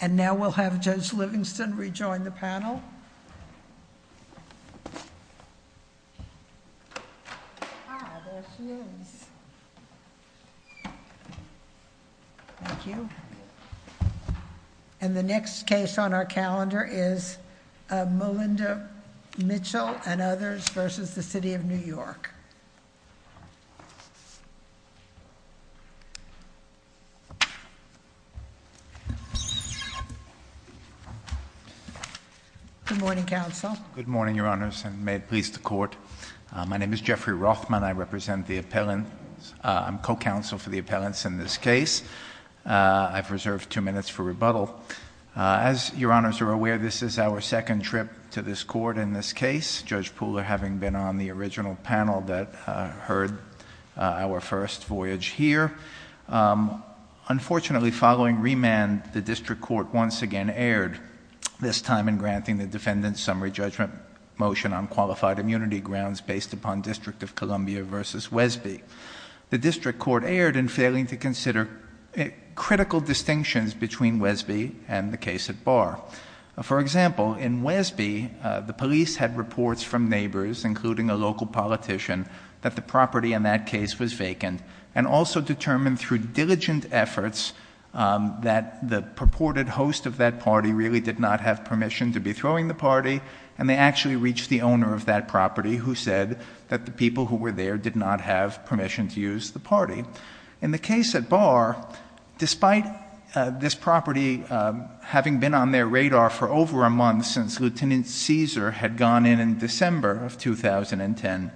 And now we'll have Judge Livingston rejoin the panel. And the next case on our calendar is Melinda Mitchell and others versus the City of New York. Good morning, counsel. Good morning, your honors, and may it please the court. My name is Jeffrey Rothman. I represent the appellants. I'm co-counsel for the appellants in this case. I've reserved two minutes for rebuttal. As your honors are aware, this is our second trip to this court in this case, Judge Pooler having been on the original panel that heard our first voyage here. Unfortunately, following remand, the district court once again erred, this time in granting the defendant's summary judgment motion on qualified immunity grounds based upon District of Columbia versus Wesby. The district court erred in failing to consider critical distinctions between Wesby and the case at Barr. For example, in Wesby, the police had reports from neighbors, including a local politician, that the property in that case was vacant and also determined through diligent efforts that the purported host of that party really did not have permission to be throwing the party and they actually reached the owner of that property who said that the people who were there did not have permission to use the party. In the case at Barr, despite this property having been on their radar for over a month since Lieutenant Caesar had gone in in December of 2010,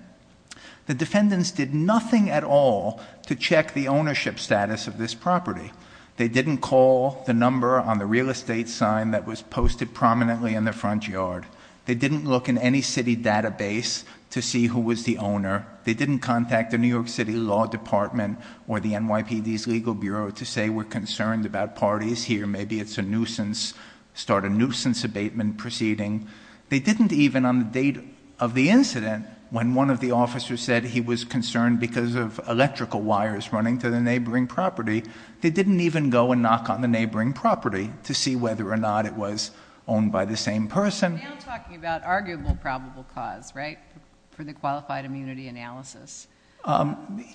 the defendants did nothing at all to check the ownership status of this property. They didn't call the number on the real estate sign that was posted prominently in the front yard. They didn't look in any city database to see who was the owner. They didn't contact the New York City Law Department or the NYPD's legal bureau to say we're concerned about parties here. Maybe it's a nuisance, start a nuisance abatement proceeding. They didn't even, on the date of the incident, when one of the officers said he was concerned because of electrical wires running to the neighboring property, they didn't even go and knock on the neighboring property to see whether or not it was owned by the same person. You're now talking about arguable probable cause, right? For the qualified immunity analysis.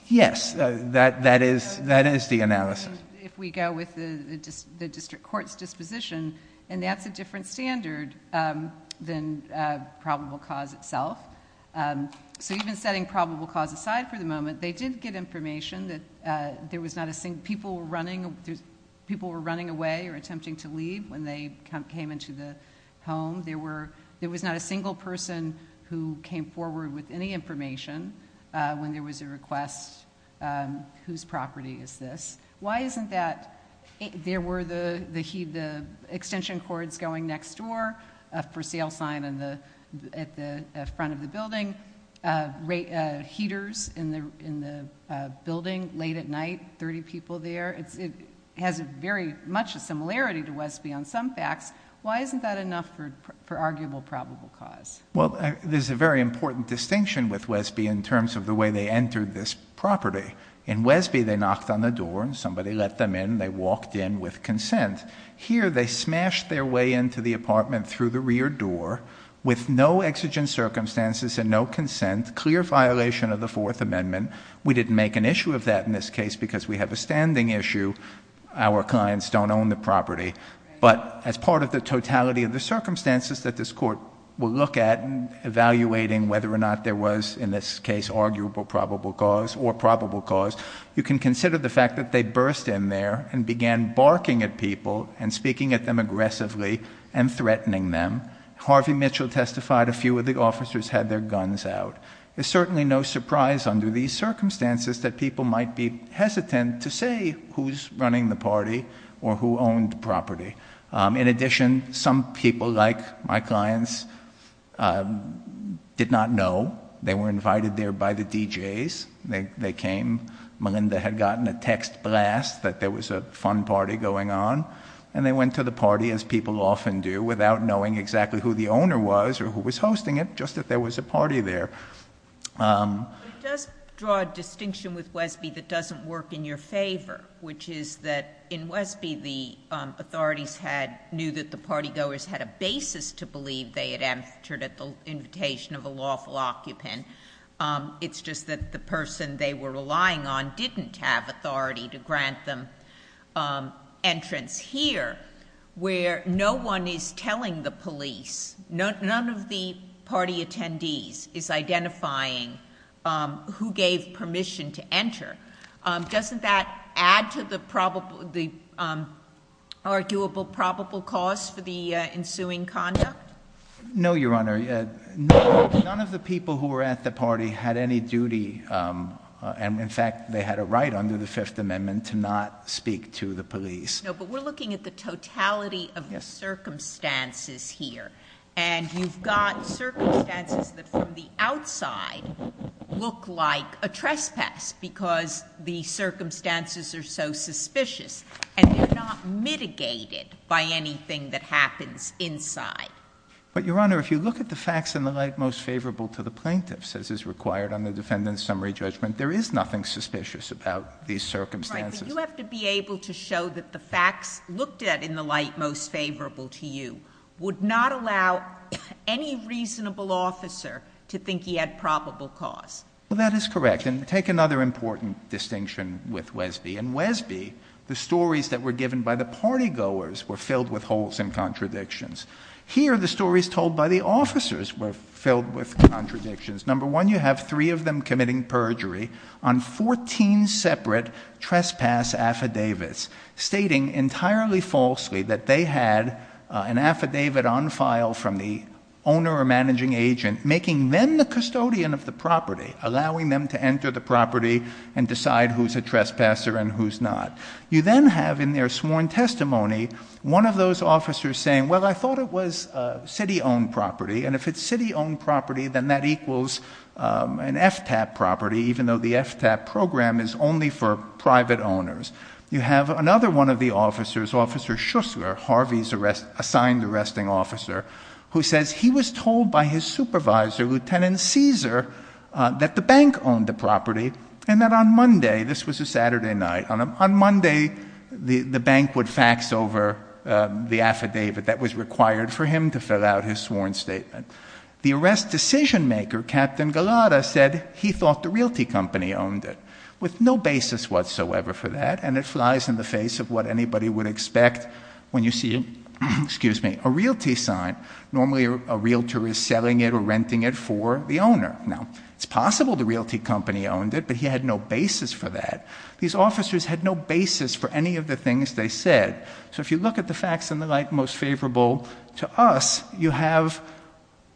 Yes, that is the analysis. If we go with the district court's disposition, and that's a different standard than probable cause itself, so even setting probable cause aside for the moment, they did get information that there was not a single, people were running away or attempting to leave when they came into the home. There was not a single person who came forward with any information when there was a request, whose property is this? Why isn't that, there were the extension cords going next door for sale sign at the front of the building, heaters in the building late at night, 30 people there. It has very much a similarity to Wesby on some facts. Why isn't that enough for arguable probable cause? Well, there's a very important distinction with Wesby in terms of the way they entered this property. In Wesby, they knocked on the door and somebody let them in, they walked in with consent. Here they smashed their way into the apartment through the rear door with no exigent circumstances and no consent, clear violation of the fourth amendment. We didn't make an issue of that in this case because we have a standing issue. Our clients don't own the property, but as part of the totality of the circumstances that this court will look at and evaluating whether or not there was, in this case, arguable probable cause or probable cause, you can consider the fact that they burst in there and began barking at people and speaking at them aggressively and threatening them. Harvey Mitchell testified a few of the officers had their guns out. It's certainly no surprise under these circumstances that people might be hesitant to say who's running the party or who owned the property. In addition, some people like my clients did not know. They were invited there by the DJs. They came. Melinda had gotten a text blast that there was a fun party going on. They went to the party, as people often do, without knowing exactly who the owner was or who was hosting it, just that there was a party there. It does draw a distinction with Wesby that doesn't work in your favor, which is that in Wesby, the authorities knew that the partygoers had a basis to believe they had entered at the invitation of a lawful occupant. It's just that the person they were relying on didn't have authority to grant them entrance here where no one is telling the police, none of the party attendees is identifying who gave permission to enter. Doesn't that add to the arguable probable cause for the ensuing conduct? No, Your Honor. None of the people who were at the party had any duty, and in fact, they had a right under the Fifth Amendment to not speak to the police. No, but we're looking at the totality of the circumstances here, and you've got circumstances that from the outside look like a trespass because the circumstances are so suspicious and they're not mitigated by anything that happens inside. But Your Honor, if you look at the facts in the light most favorable to the plaintiffs as is required on the defendant's summary judgment, there is nothing suspicious about these circumstances. Right, but you have to be able to show that the facts looked at in the light most favorable to you would not allow any reasonable officer to think he had probable cause. Well, that is correct, and take another important distinction with Wesby. In Wesby, the stories that were given by the party goers were filled with holes and contradictions. Here the stories told by the officers were filled with contradictions. Number one, you have three of them committing perjury on 14 separate trespass affidavits stating entirely falsely that they had an affidavit on file from the owner or managing agent making them the custodian of the property, allowing them to enter the property and decide who's a trespasser and who's not. You then have in their sworn testimony one of those officers saying, well, I thought it was city-owned property, and if it's city-owned property, then that equals an FTAP property even though the FTAP program is only for private owners. You have another one of the officers, Officer Schussler, Harvey's assigned arresting officer, who says he was told by his supervisor, Lieutenant Caesar, that the bank owned the property and that on Monday, this was a Saturday night, on Monday the bank would fax over the affidavit that was required for him to fill out his sworn statement. The arrest decision-maker, Captain Galata, said he thought the realty company owned it with no basis whatsoever for that, and it flies in the face of what anybody would expect when you see a realty sign. Normally a realtor is selling it or renting it for the owner. Now, it's possible the realty company owned it, but he had no basis for that. These officers had no basis for any of the things they said, so if you look at the facts and the like, most favorable to us, you have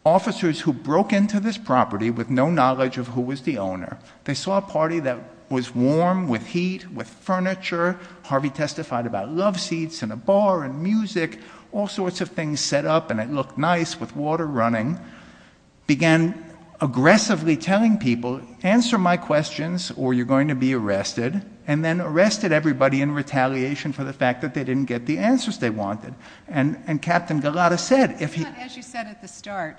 officers who broke into this property with no knowledge of who was the owner. They saw a party that was warm, with heat, with furniture, Harvey testified about love seats and a bar and music, all sorts of things set up and it looked nice with water running, began aggressively telling people, answer my questions or you're going to be arrested, and then arrested everybody in retaliation for the fact that they didn't get the answers they wanted. And Captain Galata said, if he- But as you said at the start,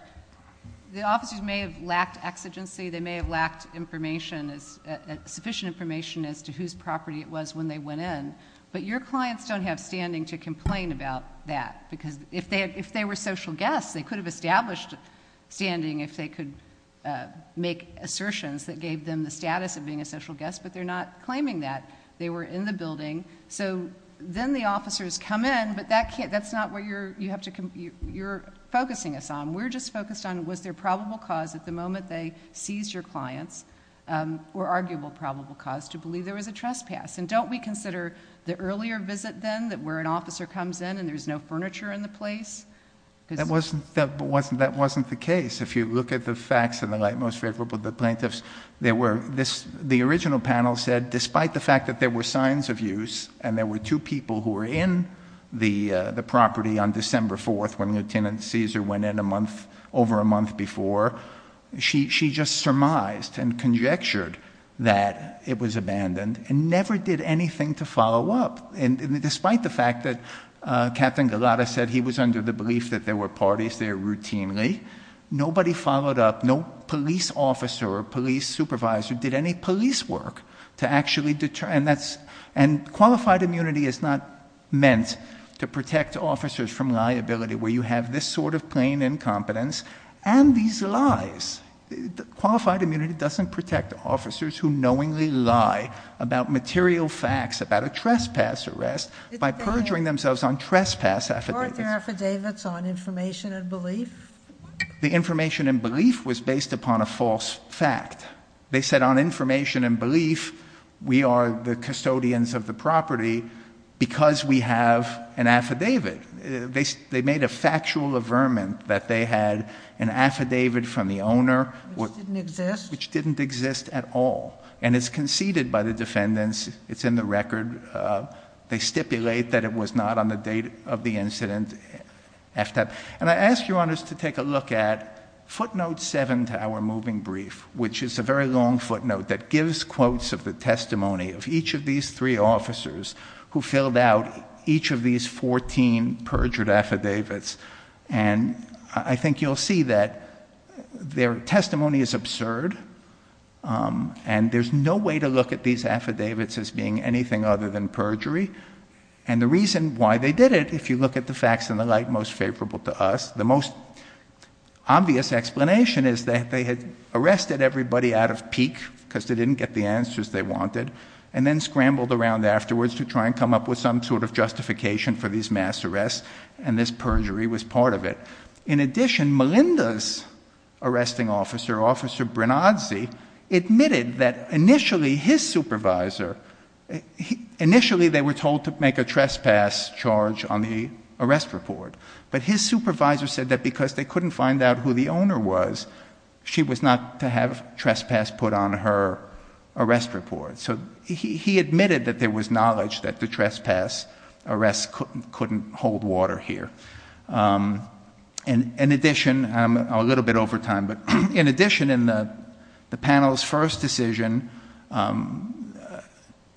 the officers may have lacked exigency, they may have lacked information, sufficient information as to whose property it was when they went in, but your clients don't have standing to complain about that, because if they were social guests, they could have established standing if they could make assertions that gave them the status of being a social guest, but they're not claiming that. They were in the building, so then the officers come in, but that's not what you're focusing us on. We're just focused on was there probable cause at the moment they seized your clients, or arguable probable cause, to believe there was a trespass. And don't we consider the earlier visit then, where an officer comes in and there's no furniture in the place? That wasn't the case. If you look at the facts in the light most favorable to the plaintiffs, the original panel said, despite the fact that there were signs of use, and there were two people who were in the property on December 4th when Lieutenant Caesar went in over a month before, she just surmised and conjectured that it was abandoned, and never did anything to follow up. Despite the fact that Captain Galata said he was under the belief that there were parties there routinely, nobody followed up, no police officer or police supervisor did any police work to actually deter, and qualified immunity is not meant to protect officers from liability where you have this sort of plain incompetence and these lies. Qualified immunity doesn't protect officers who knowingly lie about material facts about a trespass arrest by perjuring themselves on trespass affidavits. Were there affidavits on information and belief? The information and belief was based upon a false fact. They said on information and belief, we are the custodians of the property because we have an affidavit. They made a factual averment that they had an affidavit from the owner, which didn't exist at all, and it's conceded by the defendants. It's in the record. They stipulate that it was not on the date of the incident. And I ask your honors to take a look at footnote 7 to our moving brief, which is a very long footnote that gives quotes of the testimony of each of these three officers who filled out each of these 14 perjured affidavits, and I think you'll see that their testimony is absurd. And there's no way to look at these affidavits as being anything other than perjury. And the reason why they did it, if you look at the facts and the like, most favorable to us. The most obvious explanation is that they had arrested everybody out of pique because they didn't get the answers they wanted, and then scrambled around afterwards to try and come up with some sort of justification for these mass arrests, and this perjury was part of it. In addition, Melinda's arresting officer, Officer Brenazzi, admitted that initially his supervisor, initially they were told to make a trespass charge on the arrest report, but his supervisor said that because they couldn't find out who the owner was, she was not to have trespass put on her arrest report. So he admitted that there was knowledge that the trespass arrest couldn't hold water here. In addition, I'm a little bit over time, but in addition, in the panel's first decision,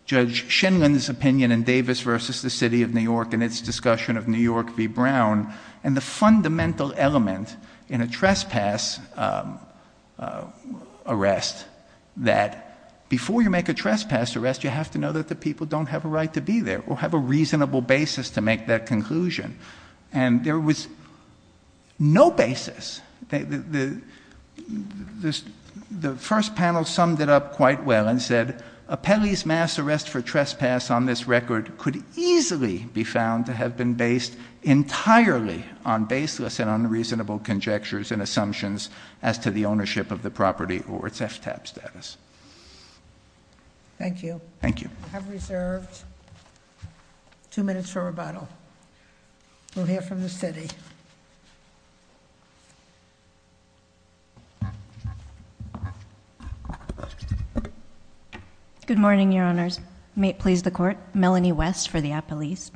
Judge Shindlin's opinion in Davis versus the City of New York and its discussion of New York v. Brown, and the fundamental element in a trespass arrest that before you make a trespass arrest, you have to know that the people don't have a right to be there or have a reasonable basis to make that conclusion, and there was no basis. The first panel summed it up quite well and said, a Pelley's mass arrest for trespass on this record could easily be found to have been based entirely on baseless and unreasonable conjectures and assumptions as to the ownership of the property or its FTAP status. Thank you. Thank you. I have reserved two minutes for rebuttal. We'll hear from the City. Good morning, Your Honors. May it please the Court. Melanie West for the Appellees.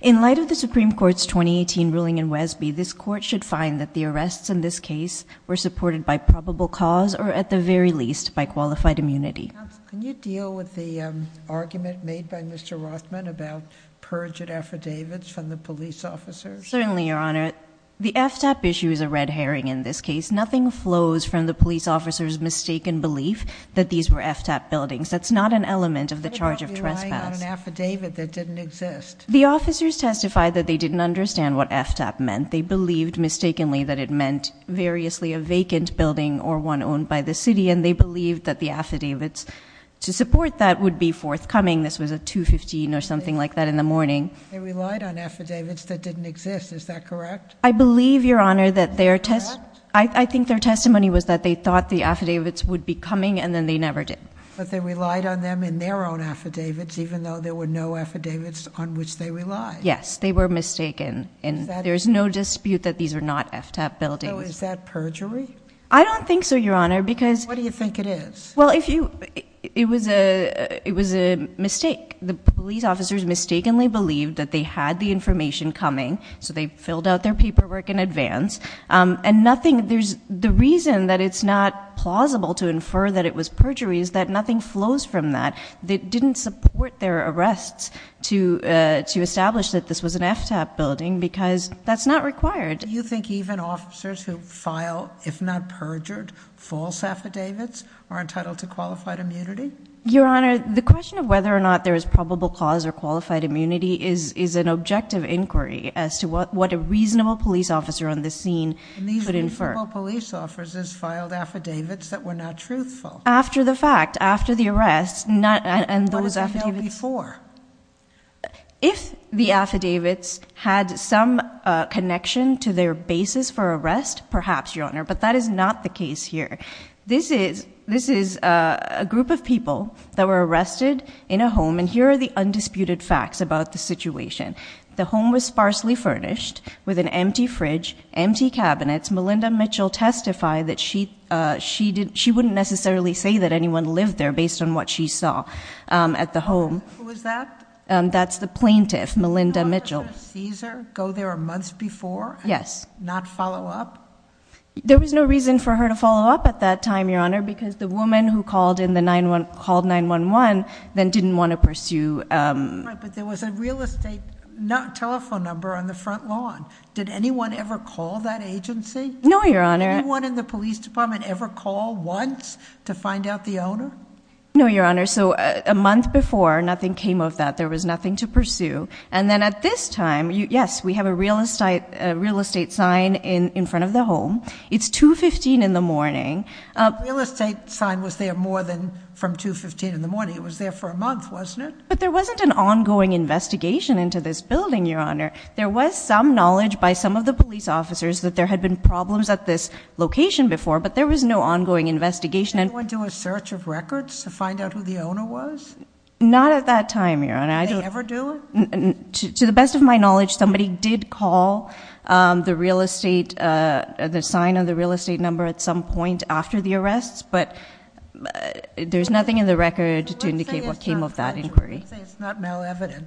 In light of the Supreme Court's 2018 ruling in Wesby, this Court should find that the arrests in this case were supported by probable cause or, at the very least, by qualified immunity. Counsel, can you deal with the argument made by Mr. Rothman about purged affidavits from the police officers? Certainly, Your Honor. The FTAP issue is a red herring in this case. Nothing flows from the police officer's mistaken belief that these were FTAP buildings. That's not an element of the charge of trespass. That's not an affidavit that didn't exist. The officers testified that they didn't understand what FTAP meant. They believed, mistakenly, that it meant variously a vacant building or one owned by the City, and they believed that the affidavits to support that would be forthcoming. This was at 2.15 or something like that in the morning. They relied on affidavits that didn't exist. Is that correct? I believe, Your Honor, that their testimony was that they thought the affidavits would be coming, and then they never did. But they relied on them in their own affidavits, even though there were no affidavits on which they relied. Yes, they were mistaken, and there's no dispute that these are not FTAP buildings. So is that perjury? I don't think so, Your Honor, because- What do you think it is? Well, it was a mistake. The police officers mistakenly believed that they had the information coming, so they filled out their paperwork in advance. And the reason that it's not plausible to infer that it was perjury is that nothing flows from that. They didn't support their arrests to establish that this was an FTAP building, because that's not required. Do you think even officers who file, if not perjured, false affidavits are entitled to qualified immunity? Your Honor, the question of whether or not there is probable cause or qualified immunity is an objective inquiry as to what a reasonable police officer on this scene could infer. And these reasonable police officers filed affidavits that were not truthful. After the fact, after the arrest, and those affidavits- What was they held before? If the affidavits had some connection to their basis for arrest, perhaps, Your Honor, but that is not the case here. This is a group of people that were arrested in a home, and here are the undisputed facts about the situation. The home was sparsely furnished with an empty fridge, empty cabinets. Melinda Mitchell testified that she wouldn't necessarily say that anyone lived there based on what she saw at the home. Who was that? That's the plaintiff, Melinda Mitchell. Did Cesar go there a month before? Yes. Not follow up? There was no reason for her to follow up at that time, Your Honor, because the woman who called 911 then didn't want to pursue- But there was a real estate telephone number on the front lawn. Did anyone ever call that agency? No, Your Honor. Anyone in the police department ever call once to find out the owner? No, Your Honor, so a month before, nothing came of that. There was nothing to pursue. And then at this time, yes, we have a real estate sign in front of the home. It's 2.15 in the morning. Real estate sign was there more than from 2.15 in the morning. It was there for a month, wasn't it? But there wasn't an ongoing investigation into this building, Your Honor. There was some knowledge by some of the police officers that there had been problems at this location before, but there was no ongoing investigation. Did anyone do a search of records to find out who the owner was? Not at that time, Your Honor. Did they ever do it? To the best of my knowledge, somebody did call the real estate, the sign on the real estate number at some point after the arrests. But there's nothing in the record to indicate what came of that inquiry. Let's say it's not malevident.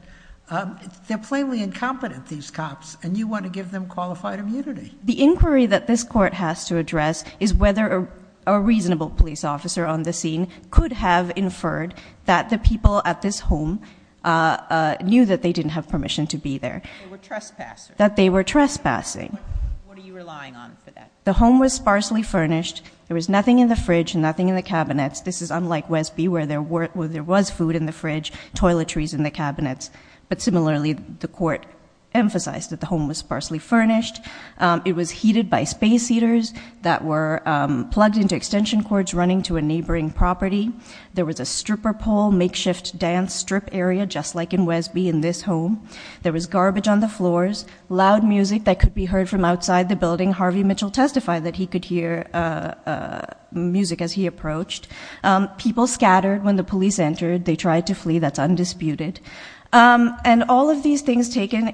They're plainly incompetent, these cops, and you want to give them qualified immunity. The inquiry that this court has to address is whether a reasonable police officer on the scene could have inferred that the people at this home knew that they didn't have permission to be there. They were trespassers. That they were trespassing. What are you relying on for that? The home was sparsely furnished. There was nothing in the fridge, nothing in the cabinets. This is unlike Wesby where there was food in the fridge, toiletries in the cabinets. But similarly, the court emphasized that the home was sparsely furnished. It was heated by space heaters that were plugged into extension cords running to a neighboring property. There was a stripper pole, makeshift dance strip area, just like in Wesby, in this home. There was garbage on the floors, loud music that could be heard from outside the building. And Harvey Mitchell testified that he could hear music as he approached. People scattered when the police entered. They tried to flee, that's undisputed. And all of these things taken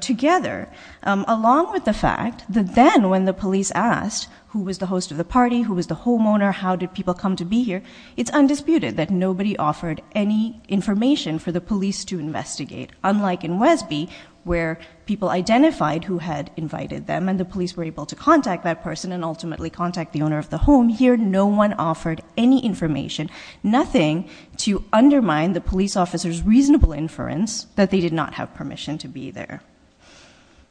together, along with the fact that then when the police asked, who was the host of the party, who was the homeowner, how did people come to be here? It's undisputed that nobody offered any information for the police to investigate. Unlike in Wesby, where people identified who had invited them and the police were able to contact that person and ultimately contact the owner of the home, here no one offered any information. Nothing to undermine the police officer's reasonable inference that they did not have permission to be there.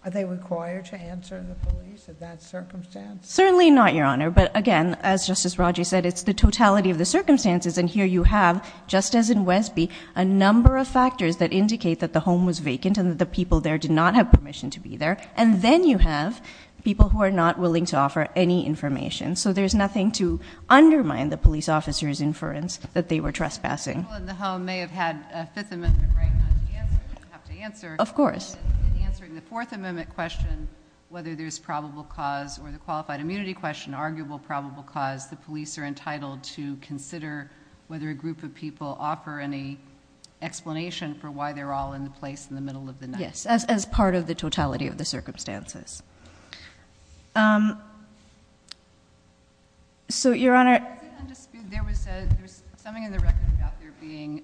Are they required to answer the police in that circumstance? Certainly not, Your Honor. But again, as Justice Rodgers said, it's the totality of the circumstances. And here you have, just as in Wesby, a number of factors that indicate that the home was vacant and that the people there did not have permission to be there. And then you have people who are not willing to offer any information. So there's nothing to undermine the police officer's inference that they were trespassing. People in the home may have had a Fifth Amendment right not to answer, but have to answer. Of course. In answering the Fourth Amendment question, whether there's probable cause or the qualified immunity question, an arguable probable cause, the police are entitled to consider whether a group of people offer any explanation for why they're all in the place in the middle of the night. Yes, as part of the totality of the circumstances. So, Your Honor- Is it undisputed, there was something in the record about there being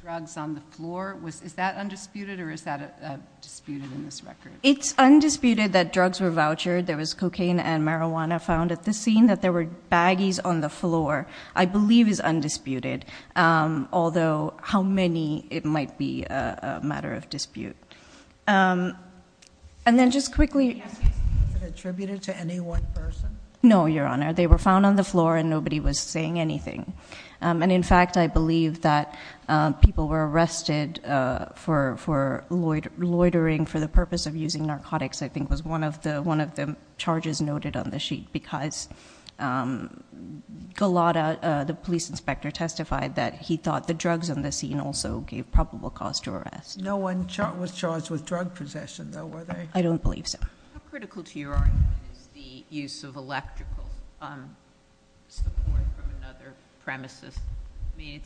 drugs on the floor. Is that undisputed or is that disputed in this record? It's undisputed that drugs were vouchered. There was cocaine and marijuana found at the scene, that there were baggies on the floor. I believe it's undisputed, although how many, it might be a matter of dispute. And then just quickly- Was it attributed to any one person? No, Your Honor. They were found on the floor and nobody was saying anything. And in fact, I believe that people were arrested for loitering for the purpose of using narcotics, I think was one of the charges noted on the sheet. Because Golotta, the police inspector, testified that he thought the drugs on the scene also gave probable cause to arrest. No one was charged with drug possession, though, were they? I don't believe so. How critical to your argument is the use of electrical support from another premises? I mean,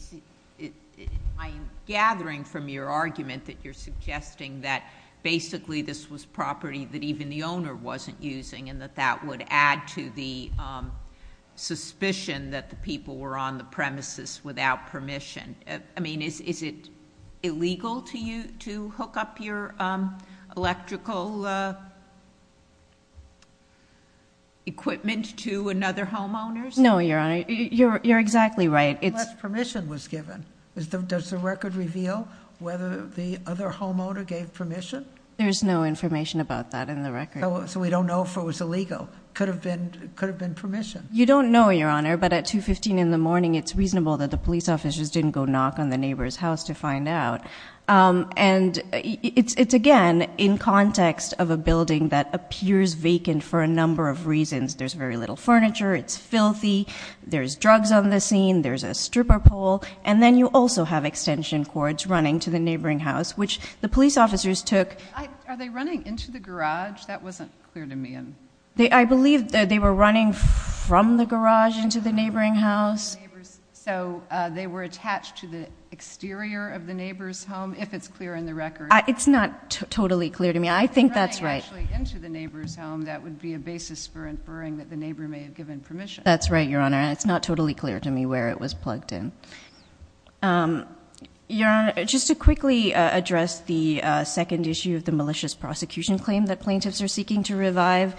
I'm gathering from your argument that you're suggesting that basically this was property that even the owner wasn't using, and that that would add to the suspicion that the people were on the premises without permission. I mean, is it illegal to hook up your electrical equipment to another homeowner's? No, Your Honor, you're exactly right. Unless permission was given. Does the record reveal whether the other homeowner gave permission? There's no information about that in the record. So we don't know if it was illegal. Could have been permission. You don't know, Your Honor, but at 2.15 in the morning, it's reasonable that the police officers didn't go knock on the neighbor's house to find out. And it's, again, in context of a building that appears vacant for a number of reasons. There's very little furniture, it's filthy, there's drugs on the scene, there's a stripper pole, and then you also have extension cords running to the neighboring house, which the police officers took. Are they running into the garage? That wasn't clear to me. I believe that they were running from the garage into the neighboring house. So they were attached to the exterior of the neighbor's home, if it's clear in the record. It's not totally clear to me. I think that's right. Actually, into the neighbor's home, that would be a basis for inferring that the neighbor may have given permission. That's right, Your Honor, and it's not totally clear to me where it was plugged in. Your Honor, just to quickly address the second issue of the malicious prosecution claim that plaintiffs are seeking to revive.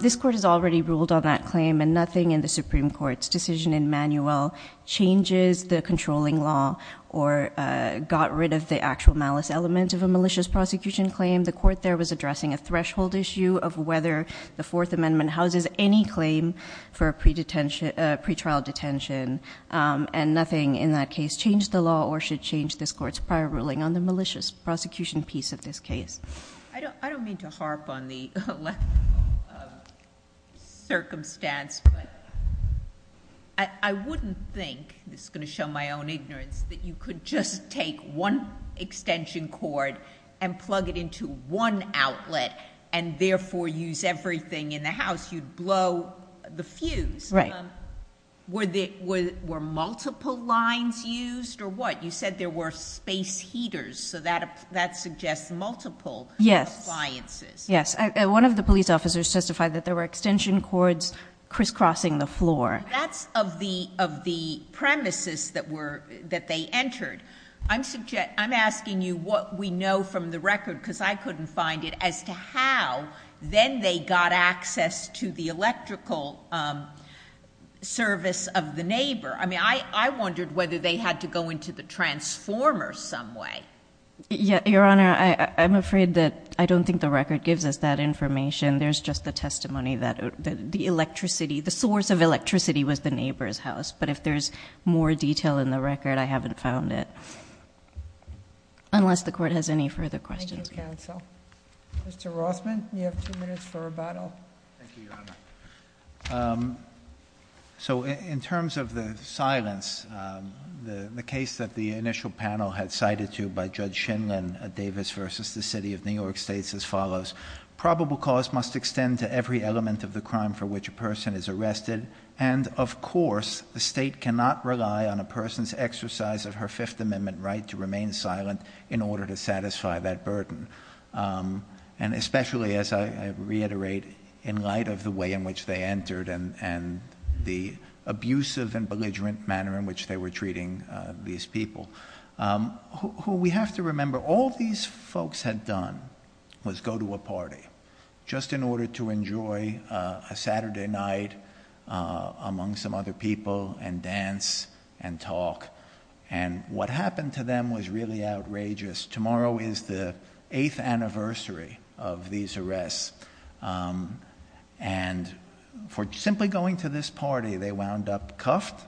This court has already ruled on that claim and nothing in the Supreme Court's decision in manual changes the controlling law or got rid of the actual malice element of a malicious prosecution claim. The court there was addressing a threshold issue of whether the Fourth Amendment houses any claim for a pretrial detention, and nothing in that case changed the law or should change this court's prior ruling on the malicious prosecution piece of this case. I don't mean to harp on the circumstance, but I wouldn't think, this is going to show my own ignorance, that you could just take one extension cord and plug it into one outlet and therefore use everything in the house, you'd blow the fuse. Were multiple lines used or what? You said there were space heaters, so that suggests multiple appliances. Yes, one of the police officers testified that there were extension cords crisscrossing the floor. That's of the premises that they entered. I'm asking you what we know from the record because I couldn't find it as to how then they got access to the electrical service of the neighbor. I mean, I wondered whether they had to go into the transformer some way. Yeah, Your Honor, I'm afraid that I don't think the record gives us that information. There's just the testimony that the source of electricity was the neighbor's house. But if there's more detail in the record, I haven't found it, unless the court has any further questions. Thank you, counsel. Mr. Rothman, you have two minutes for rebuttal. Thank you, Your Honor. So in terms of the silence, the case that the initial panel had cited to by Judge Shinlin Davis versus the City of New York states as follows. Probable cause must extend to every element of the crime for which a person is arrested. And of course, the state cannot rely on a person's exercise of her Fifth Amendment right to remain silent in order to satisfy that burden. And especially, as I reiterate, in light of the way in which they entered and the abusive and belligerent manner in which they were treating these people. Who we have to remember, all these folks had done was go to a party, just in order to enjoy a Saturday night among some other people and dance and talk. And what happened to them was really outrageous. Tomorrow is the eighth anniversary of these arrests. And for simply going to this party, they wound up cuffed,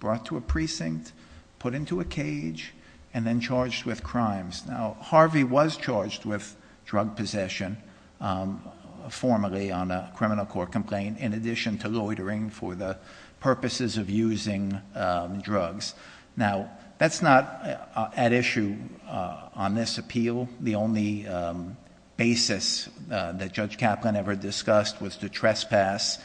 brought to a precinct, put into a cage, and then charged with crimes. Now, Harvey was charged with drug possession, formally on a criminal court complaint, in addition to loitering for the purposes of using drugs. Now, that's not at issue on this appeal. The only basis that Judge Kaplan ever discussed was to trespass,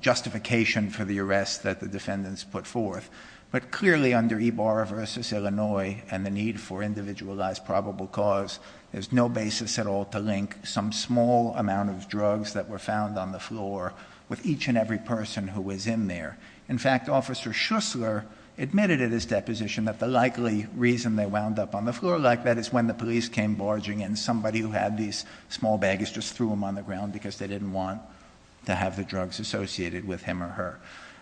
justification for the arrest that the defendants put forth. But clearly, under Ibarra versus Illinois, and the need for individualized probable cause, there's no basis at all to link some small amount of drugs that were found on the floor with each and every person who was in there. In fact, Officer Schussler admitted at his deposition that the likely reason they wound up on the floor like that is when the police came barging in. Somebody who had these small baggages just threw them on the ground because they didn't want to have the drugs associated with him or her.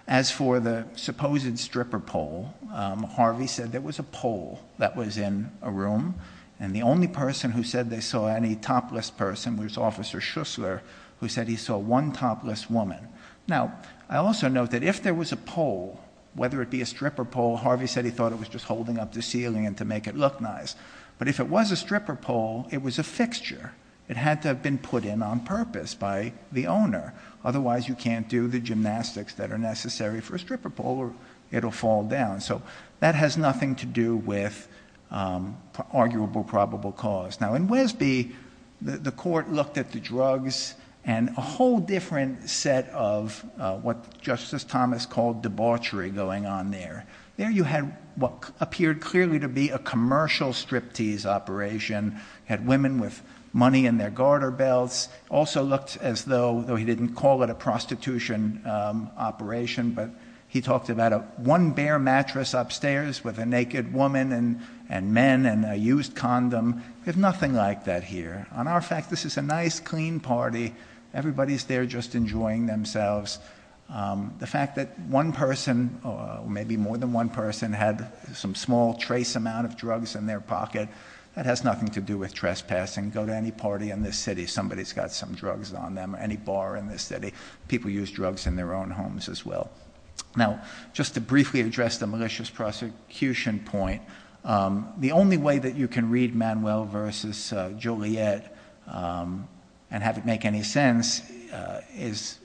As for the supposed stripper pole, Harvey said there was a pole that was in a room. And the only person who said they saw any topless person was Officer Schussler, who said he saw one topless woman. Now, I also note that if there was a pole, whether it be a stripper pole, Harvey said he thought it was just holding up the ceiling to make it look nice. But if it was a stripper pole, it was a fixture. It had to have been put in on purpose by the owner. Otherwise, you can't do the gymnastics that are necessary for a stripper pole or it'll fall down. So that has nothing to do with arguable probable cause. Now in Wesby, the court looked at the drugs and a whole different set of what Justice Thomas called debauchery going on there. There you had what appeared clearly to be a commercial striptease operation. Had women with money in their garter belts. Also looked as though, though he didn't call it a prostitution operation, but he talked about one bare mattress upstairs with a naked woman and men and a used condom. There's nothing like that here. On our fact, this is a nice, clean party. Everybody's there just enjoying themselves. The fact that one person, maybe more than one person, had some small trace amount of drugs in their pocket, that has nothing to do with trespassing. Go to any party in this city, somebody's got some drugs on them, any bar in this city. People use drugs in their own homes as well. Now, just to briefly address the malicious prosecution point, the only way that you can read Manuel versus Juliet and have it make any sense is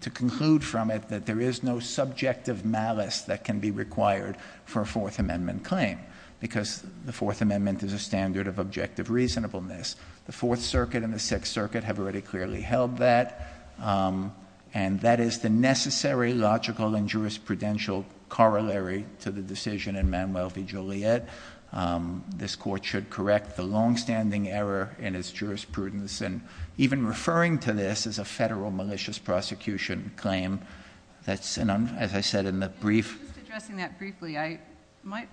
to conclude from it that there is no subjective malice that can be required for a Fourth Amendment claim. Because the Fourth Amendment is a standard of objective reasonableness. The Fourth Circuit and the Sixth Circuit have already clearly held that, and that is the necessary logical and jurisprudential corollary to the decision in Manuel v Juliet. This court should correct the longstanding error in its jurisprudence. And even referring to this as a federal malicious prosecution claim, that's an, as I said in the brief. Just addressing that briefly, I might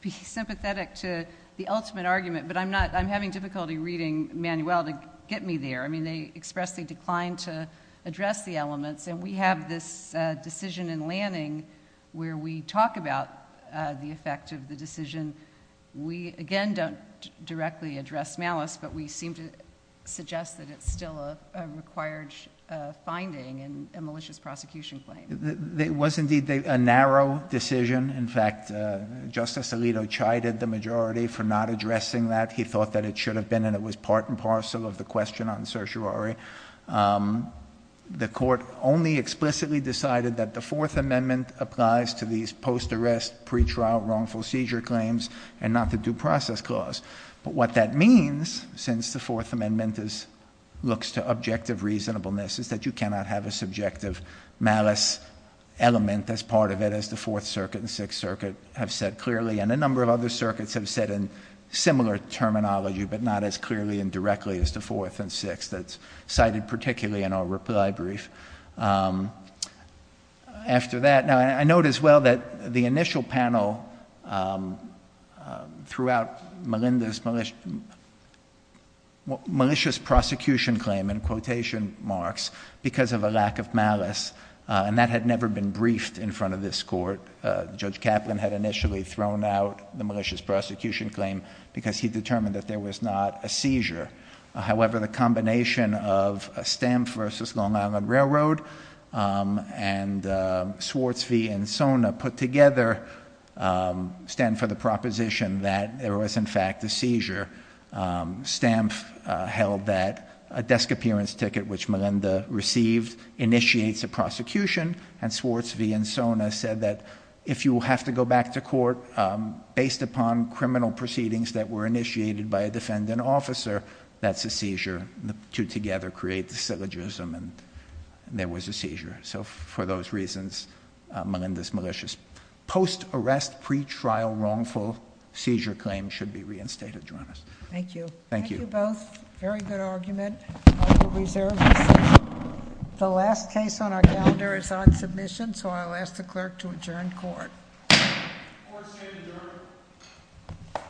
be sympathetic to the ultimate argument, but I'm having difficulty reading Manuel to get me there. I mean, they expressly declined to address the elements. And we have this decision in Lanning where we talk about the effect of the decision. We again don't directly address malice, but we seem to suggest that it's still a required finding in a malicious prosecution claim. It was indeed a narrow decision. In fact, Justice Alito chided the majority for not addressing that. He thought that it should have been, and it was part and parcel of the question on certiorari. The court only explicitly decided that the Fourth Amendment applies to these post-arrest, pre-trial wrongful seizure claims, and not the due process clause. But what that means, since the Fourth Amendment looks to objective reasonableness, is that you cannot have a subjective malice element as part of it as the Fourth Circuit and Sixth Circuit have said clearly, and a number of other circuits have said in similar terminology, but not as clearly and directly as the Fourth and Sixth that's cited particularly in our reply brief. After that, now I note as well that the initial panel throughout Melinda's malicious prosecution claim in quotation marks, because of a lack of malice, and that had never been briefed in front of this court. Judge Kaplan had initially thrown out the malicious prosecution claim because he determined that there was not a seizure. However, the combination of a stamp versus Long Island Railroad and Swartz V and Sona put together stand for the proposition that there was in fact a seizure. Stamp held that a desk appearance ticket, which Melinda received, initiates a prosecution, and Swartz V and Sona said that if you have to go back to court based upon criminal proceedings that were initiated by a defendant officer, that's a seizure. The two together create the syllogism, and there was a seizure. So for those reasons, Melinda's malicious. Post-arrest pretrial wrongful seizure claim should be reinstated, Your Honor. Thank you. Thank you. Thank you both. Very good argument. The last case on our calendar is on submission, so I'll ask the clerk to adjourn court.